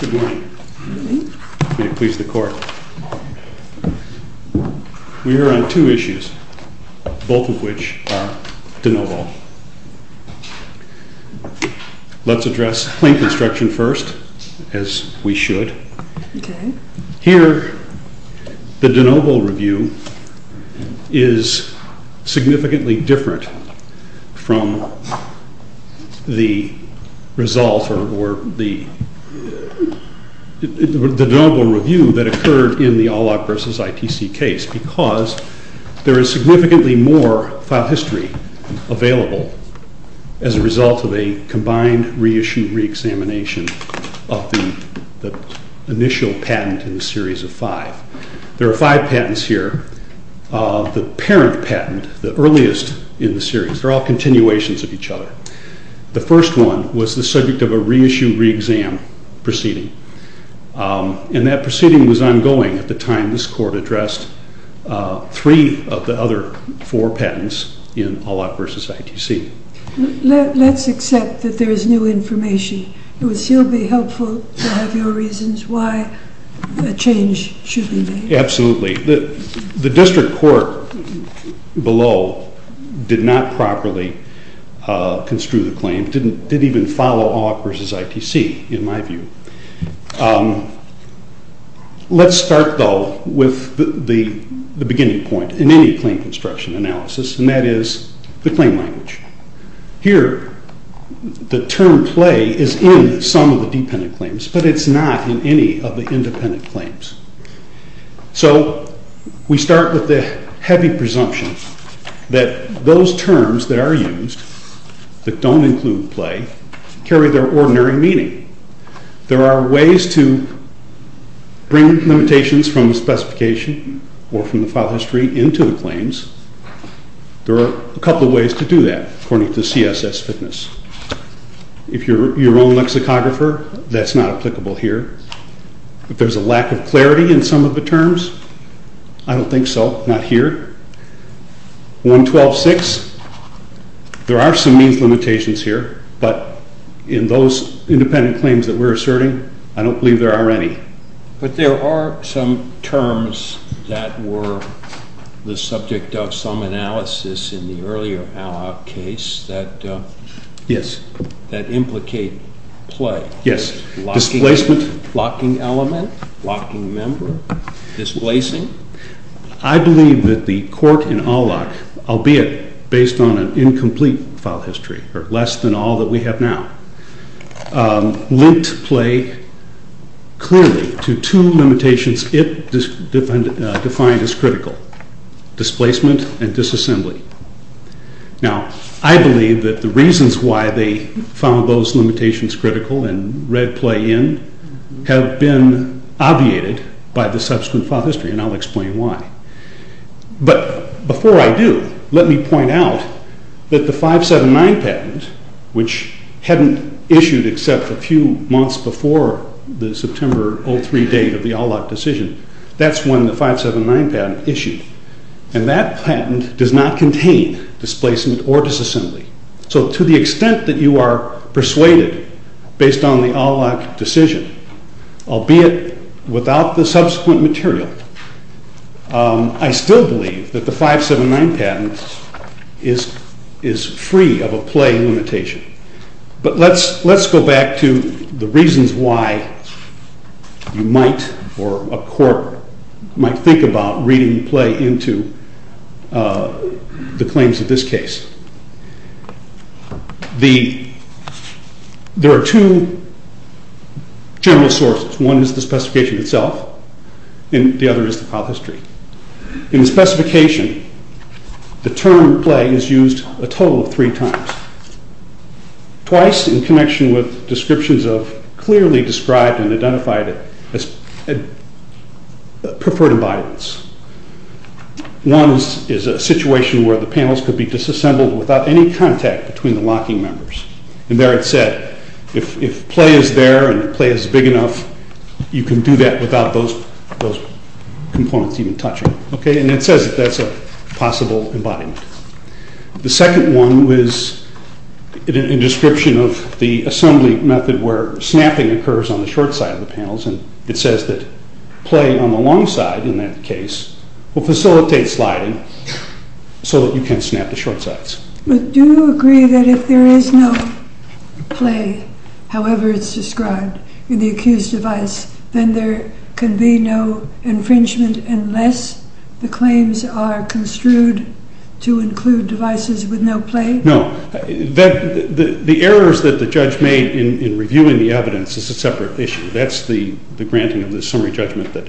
Good morning. Please the court. We are on two issues, both of which are de novo. Let's address plain construction first, as we should. Here, the de novo review is significantly different from the de novo review that occurred in the ALOC v. ITC case because there is significantly more file history available as a result of a combined reissue, re-examination of the initial patent in the series of five. There are five patents here. The parent patent, the earliest in the series, they're all continuations of each other. The first one was the subject of a reissue re-exam proceeding, and that proceeding was ongoing at the time this court addressed three of the other four patents in ALOC v. ITC. Let's accept that there is new information. It would still be helpful to have your reasons why a change should be made. Absolutely. The district court below did not properly construe the claim, didn't even follow ALOC v. ITC, in my view. Let's start, though, with the beginning point in any claim construction analysis, and that is the claim language. Here, the term play is in some of the dependent claims, but it's not in any of the independent claims. So we start with the heavy presumption that those terms that are used that don't include play carry their ordinary meaning. There are ways to bring limitations from the specification or from the file history into the claims. There are a couple of ways to do that according to CSS fitness. If you're your own lexicographer, that's not applicable here. If there's a lack of clarity in some of the terms, I don't think so, not here. 112.6, there are some means limitations here, but in those independent claims that we're asserting, I don't believe there are any. But there are some terms that were the subject of some analysis in the earlier ALOC case that implicate play. Yes, displacement. Locking element, locking member, displacing. I believe that the court in ALOC, albeit based on an incomplete file history, or less than all that we have now, linked play clearly to two limitations it defined as critical, displacement and disassembly. Now, I believe that the reasons why they found those limitations critical and read play in have been obviated by the subsequent file history, and I'll explain why. But before I do, let me point out that the 579 patent, which hadn't issued except a few months before the September 03 date of the ALOC decision, that's when the 579 patent issued, and that patent does not contain displacement or disassembly. So to the extent that you are persuaded, based on the ALOC decision, albeit without the subsequent material, I still believe that the 579 patent is free of a play limitation. But let's go back to the reasons why you might, or a court might think about reading play into the claims of this case. There are two general sources. One is the specification itself, and the other is the file history. In the specification, the term play is used a total of three times. Twice in connection with descriptions of clearly described and identified preferred environments. One is a situation where the panels could be disassembled without any contact between the locking members. And there it said, if play is there and play is big enough, you can do that without those components even touching. And it says that that's a possible embodiment. The second one was a description of the assembly method where snapping occurs on the short side of the panels, and it says that play on the long side, in that case, will facilitate sliding so that you can't snap the short sides. But do you agree that if there is no play, however it's described in the accused device, then there can be no infringement unless the claims are construed to include devices with no play? No. The errors that the judge made in reviewing the evidence is a separate issue. That's the granting of the summary judgment that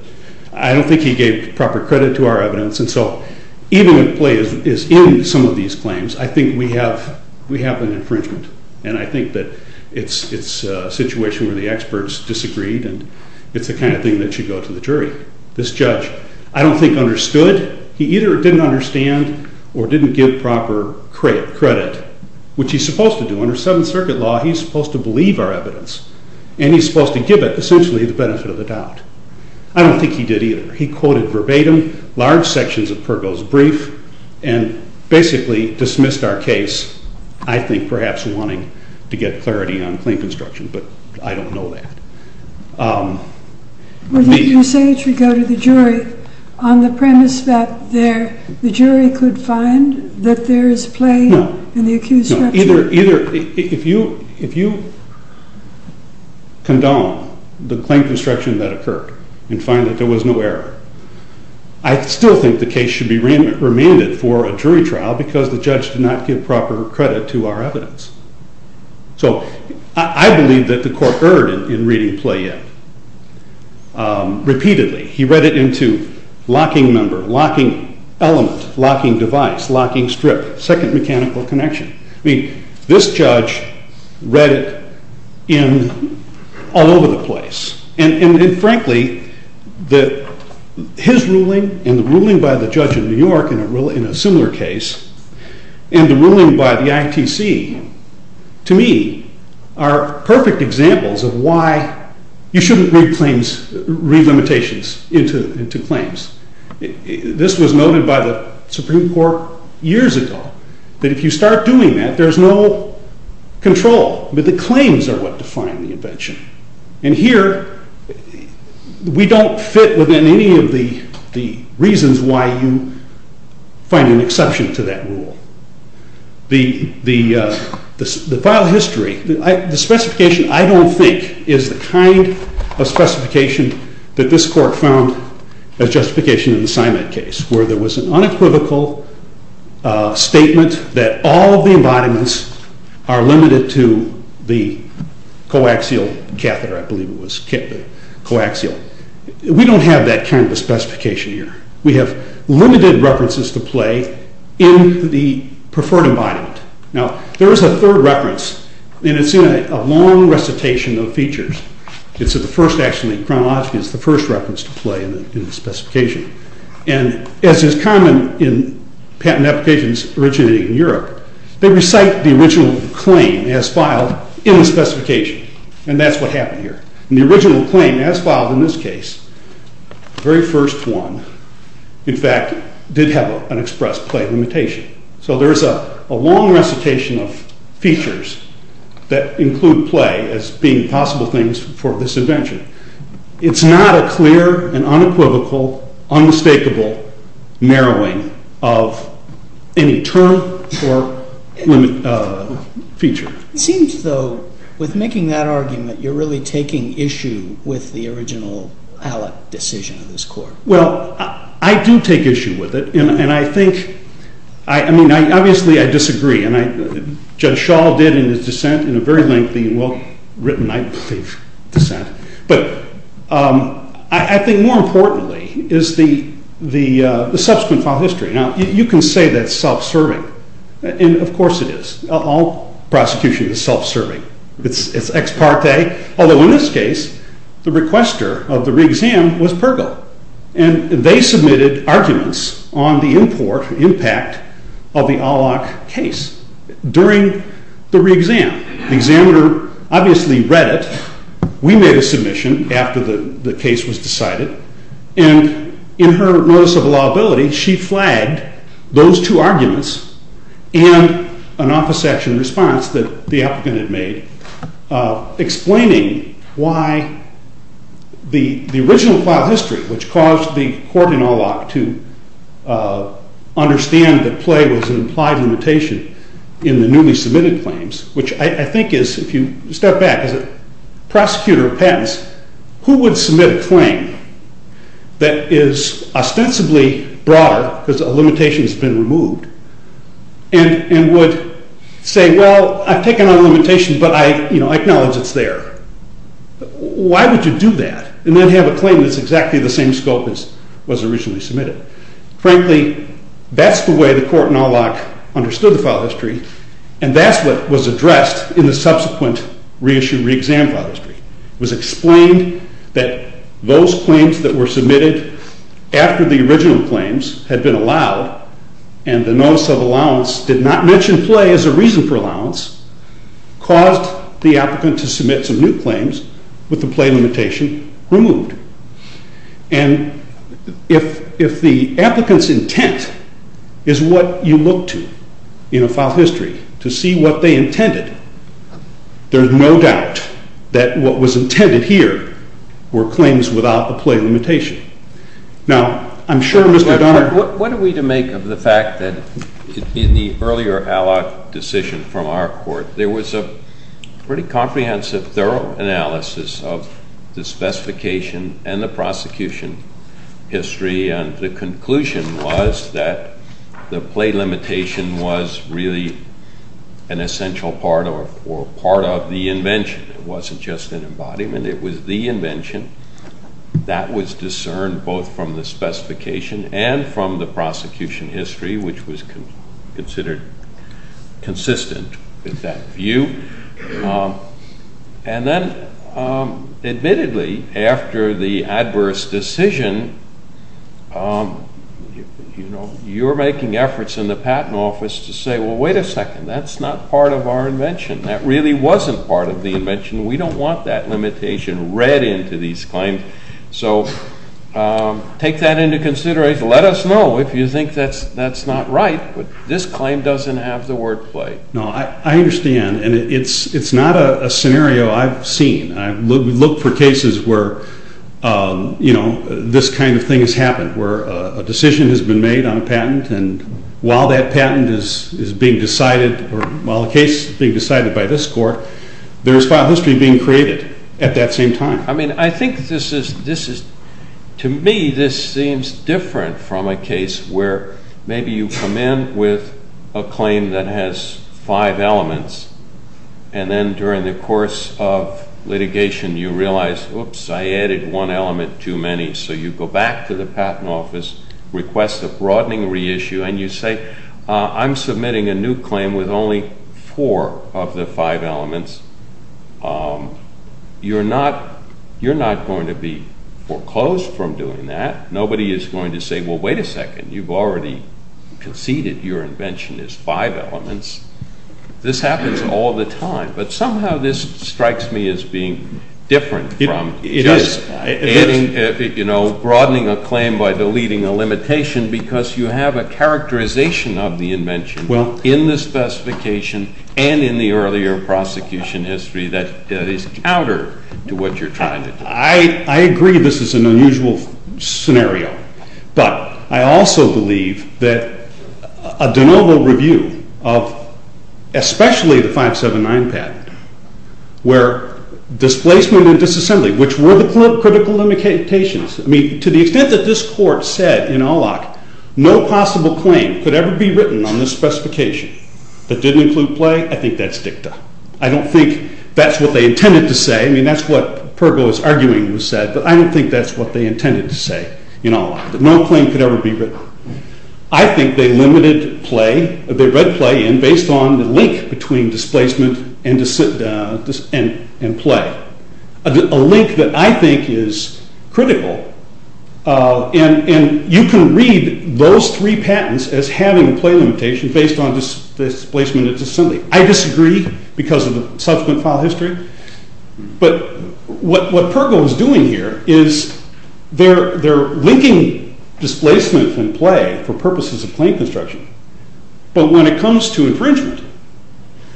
I don't think he gave proper credit to our evidence. And so even if play is in some of these claims, I think we have an infringement, and I think that it's a situation where the experts disagreed, and it's the kind of thing that should go to the jury. This judge I don't think understood. He either didn't understand or didn't give proper credit, which he's supposed to do. Under Seventh Circuit law, he's supposed to believe our evidence, and he's supposed to give it essentially the benefit of the doubt. I don't think he did either. He quoted verbatim large sections of Pergo's brief and basically dismissed our case, I think perhaps wanting to get clarity on claim construction, but I don't know that. You say it should go to the jury on the premise that the jury could find that there is play in the accused structure. If you condone the claim construction that occurred and find that there was no error, I still think the case should be remanded for a jury trial because the judge did not give proper credit to our evidence. So I believe that the court erred in reading play yet. Repeatedly, he read it into locking member, locking element, locking device, locking strip, second mechanical connection. I mean, this judge read it all over the place. And frankly, his ruling and the ruling by the judge in New York in a similar case and the ruling by the ITC, to me, are perfect examples of why you shouldn't read limitations into claims. This was noted by the Supreme Court years ago, that if you start doing that, there's no control, but the claims are what define the invention. And here, we don't fit within any of the reasons why you find an exception to that rule. The file history, the specification I don't think is the kind of specification that this court found as justification in the Simon case, where there was an unequivocal statement that all of the embodiments are limited to the coaxial catheter, I believe it was coaxial. We don't have that kind of specification here. We have limited references to play in the preferred embodiment. Now, there is a third reference, and it's in a long recitation of features. It's the first actually, chronologically, it's the first reference to play in the specification. And as is common in patent applications originating in Europe, they recite the original claim as filed in the specification. And that's what happened here. The original claim as filed in this case, the very first one, in fact, did have an express play limitation. So there's a long recitation of features that include play as being possible things for this invention. It's not a clear and unequivocal, unmistakable narrowing of any term or feature. It seems, though, with making that argument, you're really taking issue with the original ALEC decision of this court. Well, I do take issue with it, and I think, I mean, obviously I disagree. And Judge Schall did in his dissent in a very lengthy and well-written, I believe, dissent. But I think more importantly is the subsequent file history. Now, you can say that's self-serving. And of course it is. All prosecution is self-serving. It's ex parte. Although in this case, the requester of the re-exam was Pergil. And they submitted arguments on the import, impact of the ALEC case during the re-exam. The examiner obviously read it. We made a submission after the case was decided. And in her notice of allowability, she flagged those two arguments and an office action response that the applicant had made, explaining why the original file history, which caused the court in Olock to understand that play was an implied limitation in the newly submitted claims, which I think is, if you step back as a prosecutor of patents, who would submit a claim that is ostensibly broader because a limitation has been removed and would say, well, I've taken on a limitation, but I acknowledge it's there. Why would you do that and then have a claim that's exactly the same scope as was originally submitted? Frankly, that's the way the court in Olock understood the file history, and that's what was addressed in the subsequent re-issue, re-exam file history. It was explained that those claims that were submitted after the original claims had been allowed, and the notice of allowance did not mention play as a reason for allowance, caused the applicant to submit some new claims with the play limitation removed. And if the applicant's intent is what you look to in a file history to see what they intended, there's no doubt that what was intended here were claims without the play limitation. Now, I'm sure Mr. Darn… What are we to make of the fact that in the earlier Olock decision from our court, there was a pretty comprehensive, thorough analysis of the specification and the prosecution history, and the conclusion was that the play limitation was really an essential part or part of the invention. It wasn't just an embodiment. It was the invention. That was discerned both from the specification and from the prosecution history, which was considered consistent with that view. And then, admittedly, after the adverse decision, you're making efforts in the patent office to say, well, wait a second, that's not part of our invention. That really wasn't part of the invention. We don't want that limitation read into these claims, so take that into consideration. Let us know if you think that's not right, but this claim doesn't have the word play. No, I understand, and it's not a scenario I've seen. We look for cases where, you know, this kind of thing has happened, where a decision has been made on a patent, and while that patent is being decided, or while a case is being decided by this court, there's file history being created at that same time. I mean, I think this is, to me, this seems different from a case where maybe you come in with a claim that has five elements, and then during the course of litigation you realize, oops, I added one element too many, so you go back to the patent office, request a broadening reissue, and you say, I'm submitting a new claim with only four of the five elements. You're not going to be foreclosed from doing that. Nobody is going to say, well, wait a second, you've already conceded your invention is five elements. This happens all the time, but somehow this strikes me as being different from just adding, you know, broadening a claim by deleting a limitation, because you have a characterization of the invention in the specification and in the earlier prosecution history that is counter to what you're trying to do. I agree this is an unusual scenario, but I also believe that a de novo review of especially the 579 patent, where displacement and disassembly, which were the critical limitations, I mean, to the extent that this court said in Alloc no possible claim could ever be written on this specification that didn't include play, I think that's dicta. I don't think that's what they intended to say, I mean, that's what Pergo is arguing was said, but I don't think that's what they intended to say in Alloc, that no claim could ever be written. I think they limited play, they read play in based on the link between displacement and play. A link that I think is critical, and you can read those three patents as having play limitation based on displacement and disassembly. I disagree because of the subsequent file history, but what Pergo is doing here is they're linking displacement and play for purposes of claim construction, but when it comes to infringement,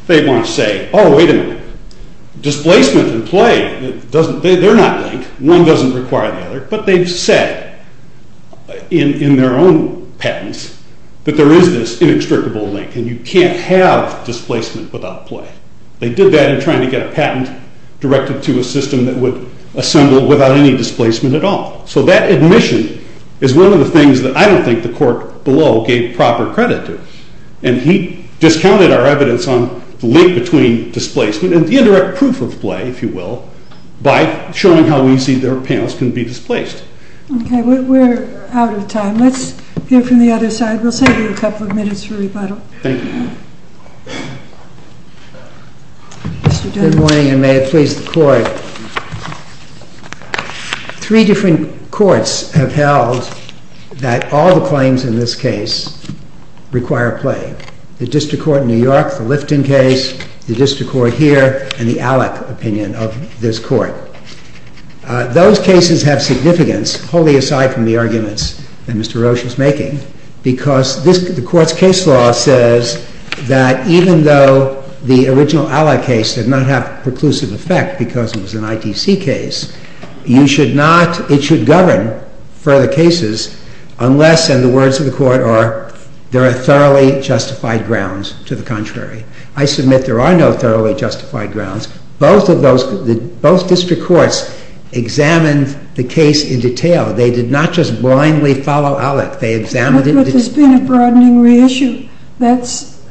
they want to say, oh, wait a minute, displacement and play, they're not linked, one doesn't require the other, but they've said in their own patents that there is this inextricable link, and you can't have displacement without play. They did that in trying to get a patent directed to a system that would assemble without any displacement at all. So that admission is one of the things that I don't think the court below gave proper credit to, and he discounted our evidence on the link between displacement and the indirect proof of play, if you will, by showing how easy their panels can be displaced. Okay, we're out of time. Let's hear from the other side. We'll save you a couple of minutes for rebuttal. Thank you. Good morning, and may it please the court. Three different courts have held that all the claims in this case require play. The District Court in New York, the Lifton case, the District Court here, and the ALEC opinion of this court. Those cases have significance, wholly aside from the arguments that Mr. Roche is making, because the court's case law says that even though the original ALEC case did not have preclusive effect because it was an ITC case, it should govern further cases unless, and the words of the court are, there are thoroughly justified grounds to the contrary. I submit there are no thoroughly justified grounds. Both District Courts examined the case in detail. They did not just blindly follow ALEC. They examined it. But there's been a broadening reissue. That's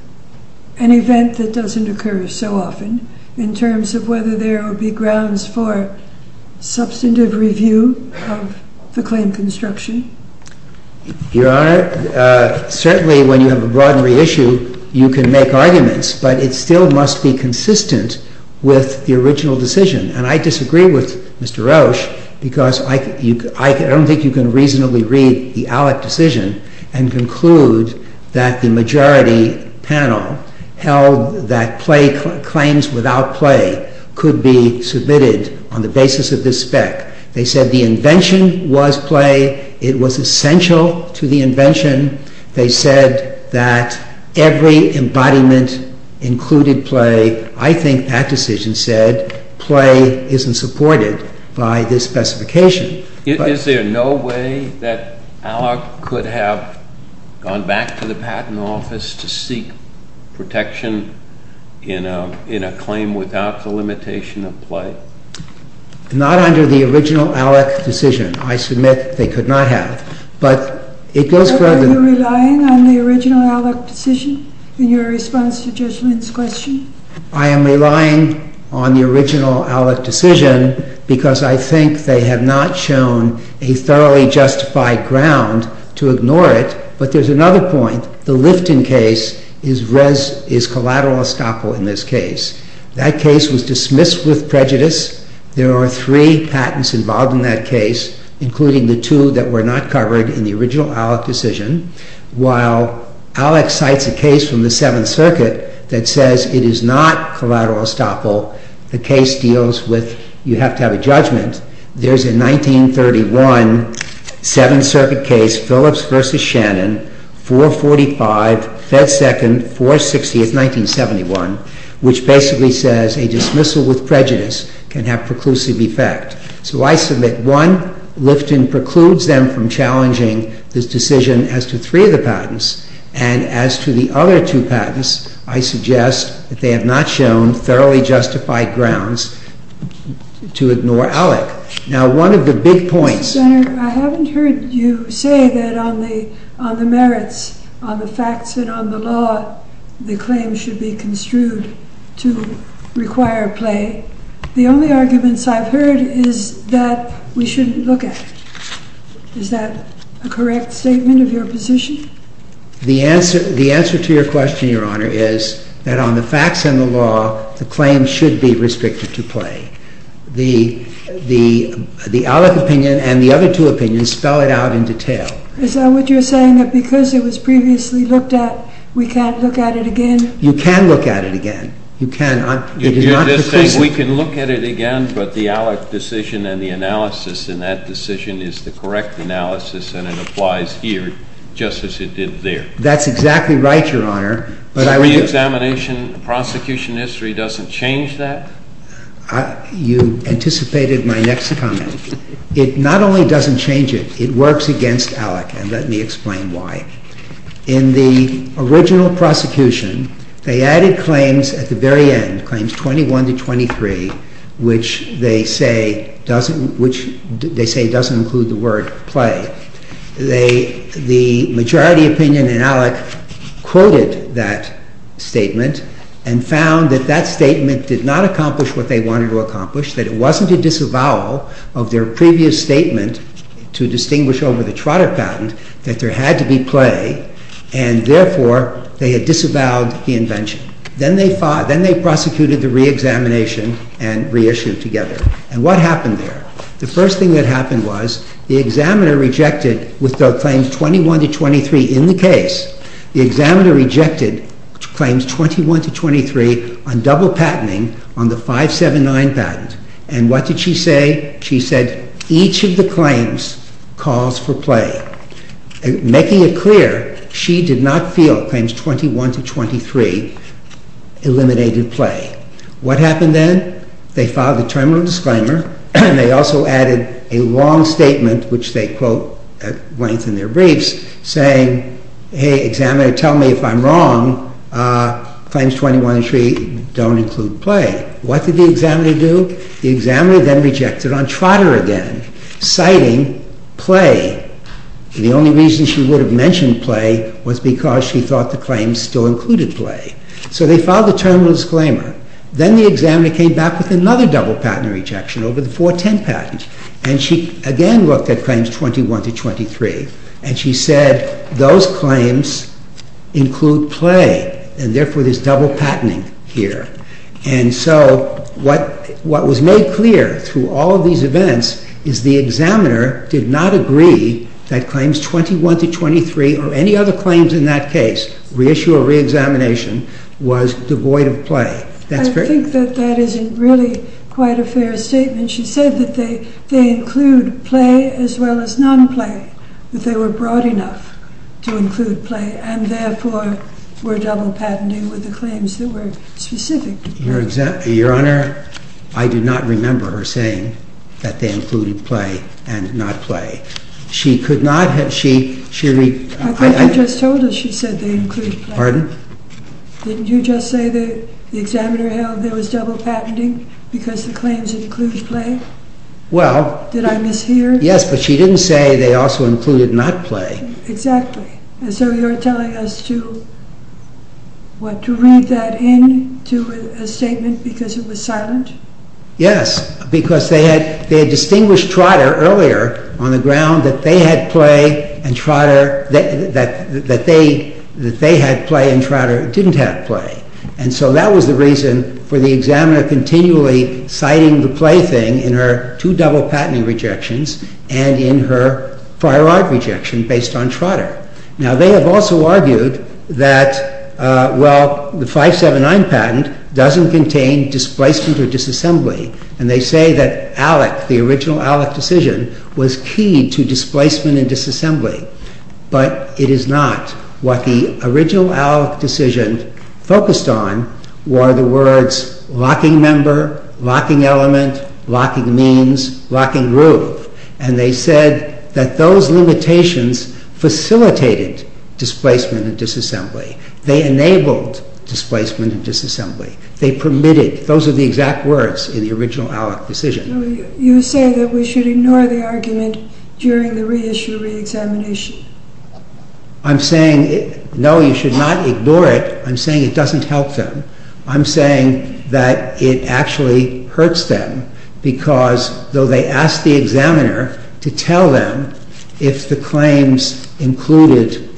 an event that doesn't occur so often in terms of whether there will be grounds for substantive review of the claim construction. Your Honor, certainly when you have a broad reissue, you can make arguments, but it still must be consistent with the original decision. And I disagree with Mr. Roche because I don't think you can reasonably read the ALEC decision and conclude that the majority panel held that claims without play could be submitted on the basis of this spec. They said the invention was play. It was essential to the invention. They said that every embodiment included play. I think that decision said play isn't supported by this specification. Is there no way that ALEC could have gone back to the Patent Office to seek protection in a claim without the limitation of play? Not under the original ALEC decision. I submit they could not have. But it goes further than that. Are you relying on the original ALEC decision in your response to Judge Lynn's question? I am relying on the original ALEC decision because I think they have not shown a thoroughly justified ground to ignore it. But there's another point. The Lifton case is collateral estoppel in this case. That case was dismissed with prejudice. There are three patents involved in that case, including the two that were not covered in the original ALEC decision. While ALEC cites a case from the Seventh Circuit that says it is not collateral estoppel, the case deals with you have to have a judgment. There's a 1931 Seventh Circuit case, Phillips v. Shannon, 445, Fed 2nd, 460th, 1971, which basically says a dismissal with prejudice can have preclusive effect. So I submit, one, Lifton precludes them from challenging this decision as to three of the patents, and as to the other two patents, I suggest that they have not shown thoroughly justified grounds to ignore ALEC. Now, one of the big points— Mr. Senator, I haven't heard you say that on the merits, on the facts and on the law, the claim should be construed to require play. The only arguments I've heard is that we shouldn't look at it. Is that a correct statement of your position? The answer to your question, Your Honor, is that on the facts and the law, the claim should be restricted to play. The ALEC opinion and the other two opinions spell it out in detail. Is that what you're saying, that because it was previously looked at, we can't look at it again? You can look at it again. You can. It is not preclusive. You're just saying we can look at it again, but the ALEC decision and the analysis in that decision is the correct analysis, and it applies here just as it did there. That's exactly right, Your Honor. So reexamination, prosecution history doesn't change that? You anticipated my next comment. It not only doesn't change it, it works against ALEC, and let me explain why. In the original prosecution, they added claims at the very end, claims 21 to 23, which they say doesn't include the word play. The majority opinion in ALEC quoted that statement and found that that statement did not accomplish what they wanted to accomplish, that it wasn't a disavowal of their previous statement to distinguish over the Trotter patent, that there had to be play, and therefore they had disavowed the invention. Then they prosecuted the reexamination and reissued together. And what happened there? The first thing that happened was the examiner rejected, with the claims 21 to 23 in the case, the examiner rejected claims 21 to 23 on double patenting on the 579 patent. And what did she say? She said each of the claims calls for play. Making it clear, she did not feel claims 21 to 23 eliminated play. What happened then? They filed a terminal disclaimer, and they also added a long statement, which they quote at length in their briefs, saying, hey, examiner, tell me if I'm wrong. Claims 21 and 23 don't include play. What did the examiner do? The examiner then rejected on Trotter again, citing play. The only reason she would have mentioned play was because she thought the claims still included play. So they filed a terminal disclaimer. Then the examiner came back with another double patent rejection over the 410 patent. And she again looked at claims 21 to 23, and she said those claims include play, and therefore there's double patenting here. And so what was made clear through all of these events is the examiner did not agree that claims 21 to 23 or any other claims in that case, reissue or reexamination, was devoid of play. I think that that isn't really quite a fair statement. She said that they include play as well as non-play, that they were broad enough to include play, and therefore were double patenting with the claims that were specific to play. Your Honor, I do not remember her saying that they included play and not play. I think you just told us she said they include play. Pardon? Didn't you just say the examiner held there was double patenting because the claims included play? Well... Did I mishear? Yes, but she didn't say they also included not play. Exactly. And so you're telling us to, what, to read that in to a statement because it was silent? Yes, because they had distinguished Trotter earlier on the ground that they had play and Trotter didn't have play. And so that was the reason for the examiner continually citing the play thing in her two double patenting rejections and in her prior art rejection based on Trotter. Now, they have also argued that, well, the 579 patent doesn't contain displacement or disassembly. And they say that ALEC, the original ALEC decision, was key to displacement and disassembly. But it is not. What the original ALEC decision focused on were the words locking member, locking element, locking means, locking roof. And they said that those limitations facilitated displacement and disassembly. They enabled displacement and disassembly. They permitted, those are the exact words in the original ALEC decision. You say that we should ignore the argument during the reissue reexamination. I'm saying, no, you should not ignore it. I'm saying it doesn't help them. I'm saying that it actually hurts them. Because though they asked the examiner to tell them if the claims included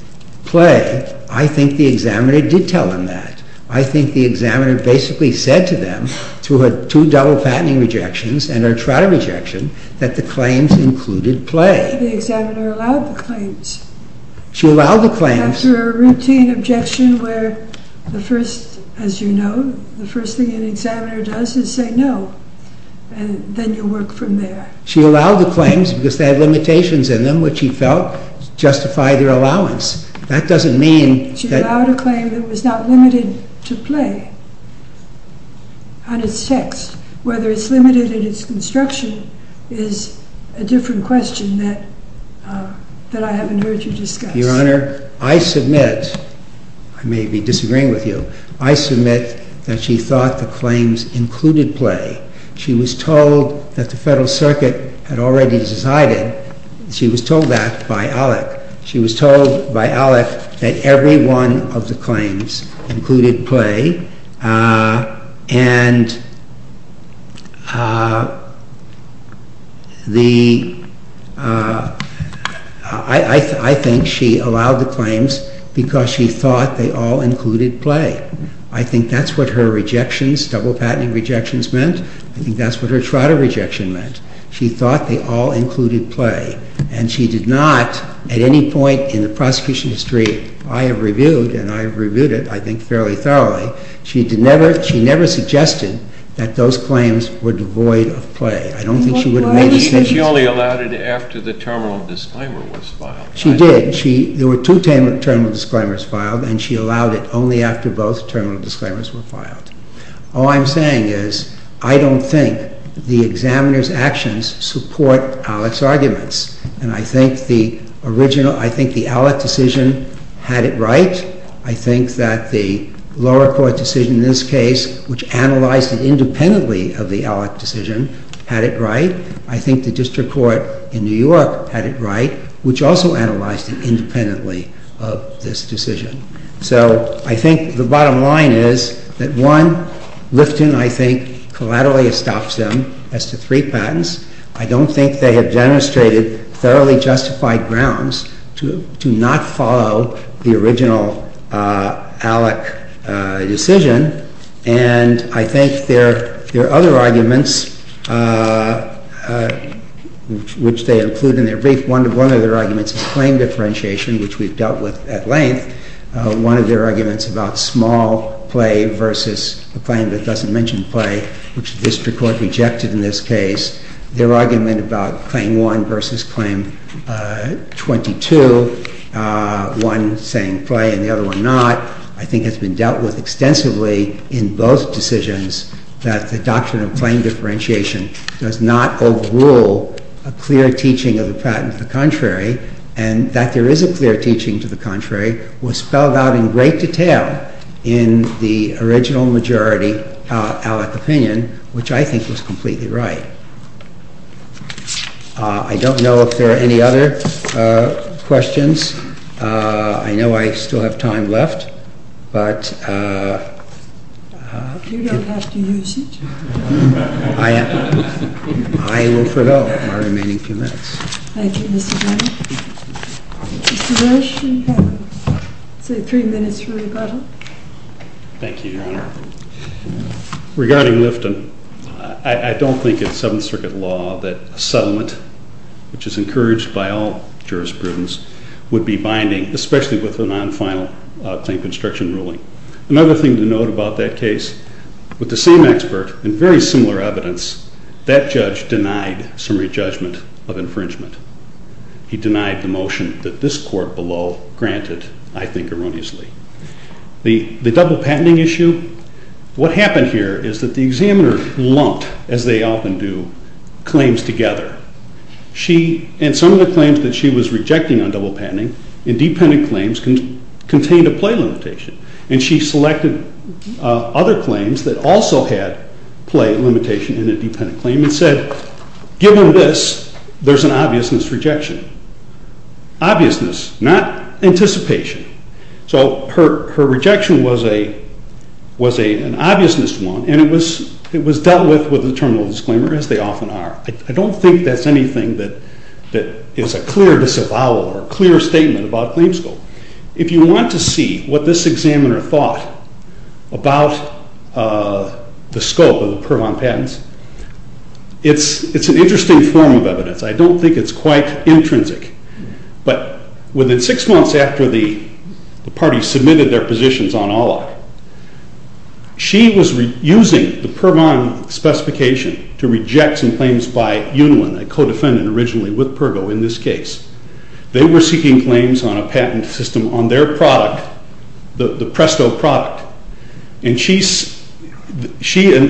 play, I think the examiner did tell them that. I think the examiner basically said to them, through her two double patenting rejections and her Trotter rejection, that the claims included play. She allowed the claims. After a routine objection where the first, as you know, the first thing an examiner does is say no. And then you work from there. She allowed the claims because they had limitations in them, which she felt justified their allowance. That doesn't mean that... She allowed a claim that was not limited to play on its text. Whether it's limited in its construction is a different question that I haven't heard you discuss. Your Honor, I submit... I may be disagreeing with you. I submit that she thought the claims included play. She was told that the Federal Circuit had already decided. She was told that by Alec. She was told by Alec that every one of the claims included play. And I think she allowed the claims because she thought they all included play. I think that's what her rejections, double patenting rejections, meant. I think that's what her Trotter rejection meant. She thought they all included play. And she did not, at any point in the prosecution history, I have reviewed, and I have reviewed it, I think, fairly thoroughly. She never suggested that those claims were devoid of play. I don't think she would have made a decision... She only allowed it after the terminal disclaimer was filed. She did. There were two terminal disclaimers filed, and she allowed it only after both terminal disclaimers were filed. All I'm saying is, I don't think the examiner's actions support Alec's arguments. And I think the original, I think the Alec decision had it right. I think that the lower court decision in this case, which analyzed it independently of the Alec decision, had it right. I think the district court in New York had it right, which also analyzed it independently of this decision. So, I think the bottom line is that, one, Lifton, I think, collaterally estops them as to three patents. I don't think they have demonstrated thoroughly justified grounds to not follow the original Alec decision. And I think there are other arguments, which they include in their brief. One of their arguments is claim differentiation, which we've dealt with at length. One of their arguments about small play versus a claim that doesn't mention play, which the district court rejected in this case. Their argument about claim 1 versus claim 22, one saying play and the other one not, I think has been dealt with extensively in both decisions, that the doctrine of claim differentiation does not overrule a clear teaching of the patent to the contrary, and that there is a clear teaching to the contrary, was spelled out in great detail in the original majority Alec opinion, which I think was completely right. I don't know if there are any other questions. I know I still have time left. But you don't have to use it. I will forego my remaining few minutes. Thank you, Mr. Brown. Mr. Rush, you have, say, three minutes for rebuttal. Thank you, Your Honor. Regarding Lifton, I don't think it's Seventh Circuit law that a settlement, which is encouraged by all jurisprudence, would be binding, especially with a non-final claim construction ruling. Another thing to note about that case, with the same expert and very similar evidence, that judge denied summary judgment of infringement. He denied the motion that this court below granted, I think erroneously. The double patenting issue, what happened here is that the examiner lumped, as they often do, claims together. And some of the claims that she was rejecting on double patenting, independent claims, contained a play limitation. And she selected other claims that also had play limitation in a dependent claim and said, given this, there's an obviousness rejection. Obviousness, not anticipation. So her rejection was an obviousness one, and it was dealt with with a terminal disclaimer, as they often are. I don't think that's anything that is a clear disavowal or a clear statement about claim scope. If you want to see what this examiner thought about the scope of the Pervon patents, it's an interesting form of evidence. I don't think it's quite intrinsic. But within six months after the parties submitted their positions on Alloc, she was using the Pervon specification to reject some claims by Yunlin, a co-defendant originally with Pervo in this case. They were seeking claims on a patent system on their product, the Presto product. And she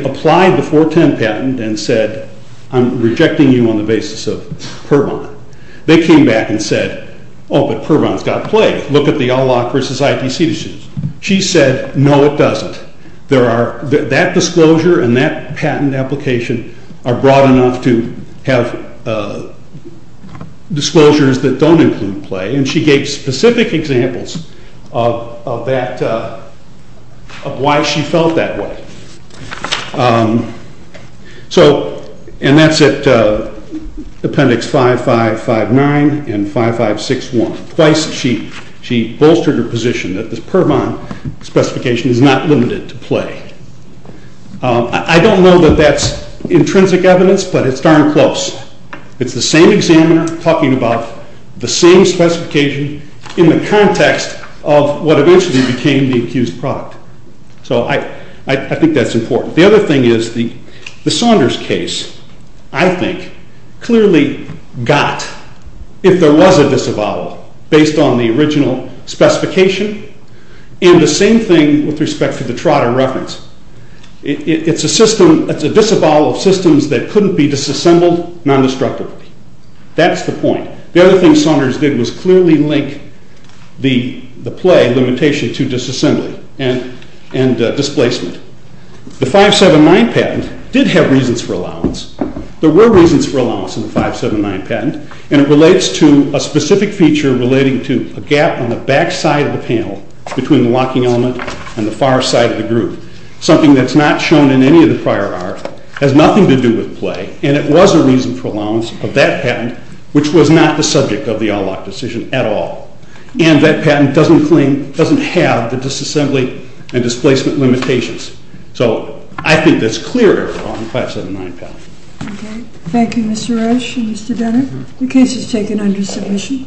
applied the 410 patent and said, I'm rejecting you on the basis of Pervon. They came back and said, oh, but Pervon's got play. Look at the Alloc versus ITC decisions. She said, no, it doesn't. That disclosure and that patent application are broad enough to have disclosures that don't include play. And she gave specific examples of why she felt that way. And that's at Appendix 5559 and 5561. Twice she bolstered her position that the Pervon specification is not limited to play. I don't know that that's intrinsic evidence, but it's darn close. It's the same examiner talking about the same specification in the context of what eventually became the accused product. So I think that's important. The other thing is the Saunders case, I think, clearly got, if there was a disavowal based on the original specification, and the same thing with respect to the Trotter reference. It's a system, it's a disavowal of systems that couldn't be disassembled non-destructively. That's the point. The other thing Saunders did was clearly link the play limitation to disassembly and displacement. The 579 patent did have reasons for allowance. There were reasons for allowance in the 579 patent, and it relates to a specific feature relating to a gap on the back side of the panel between the locking element and the far side of the groove, something that's not shown in any of the prior art, has nothing to do with play, and it was a reason for allowance of that patent, which was not the subject of the Alloc decision at all. And that patent doesn't claim, doesn't have the disassembly and displacement limitations. So I think that's clear on the 579 patent. Okay. Thank you, Mr. Roche and Mr. Denner. The case is taken under submission.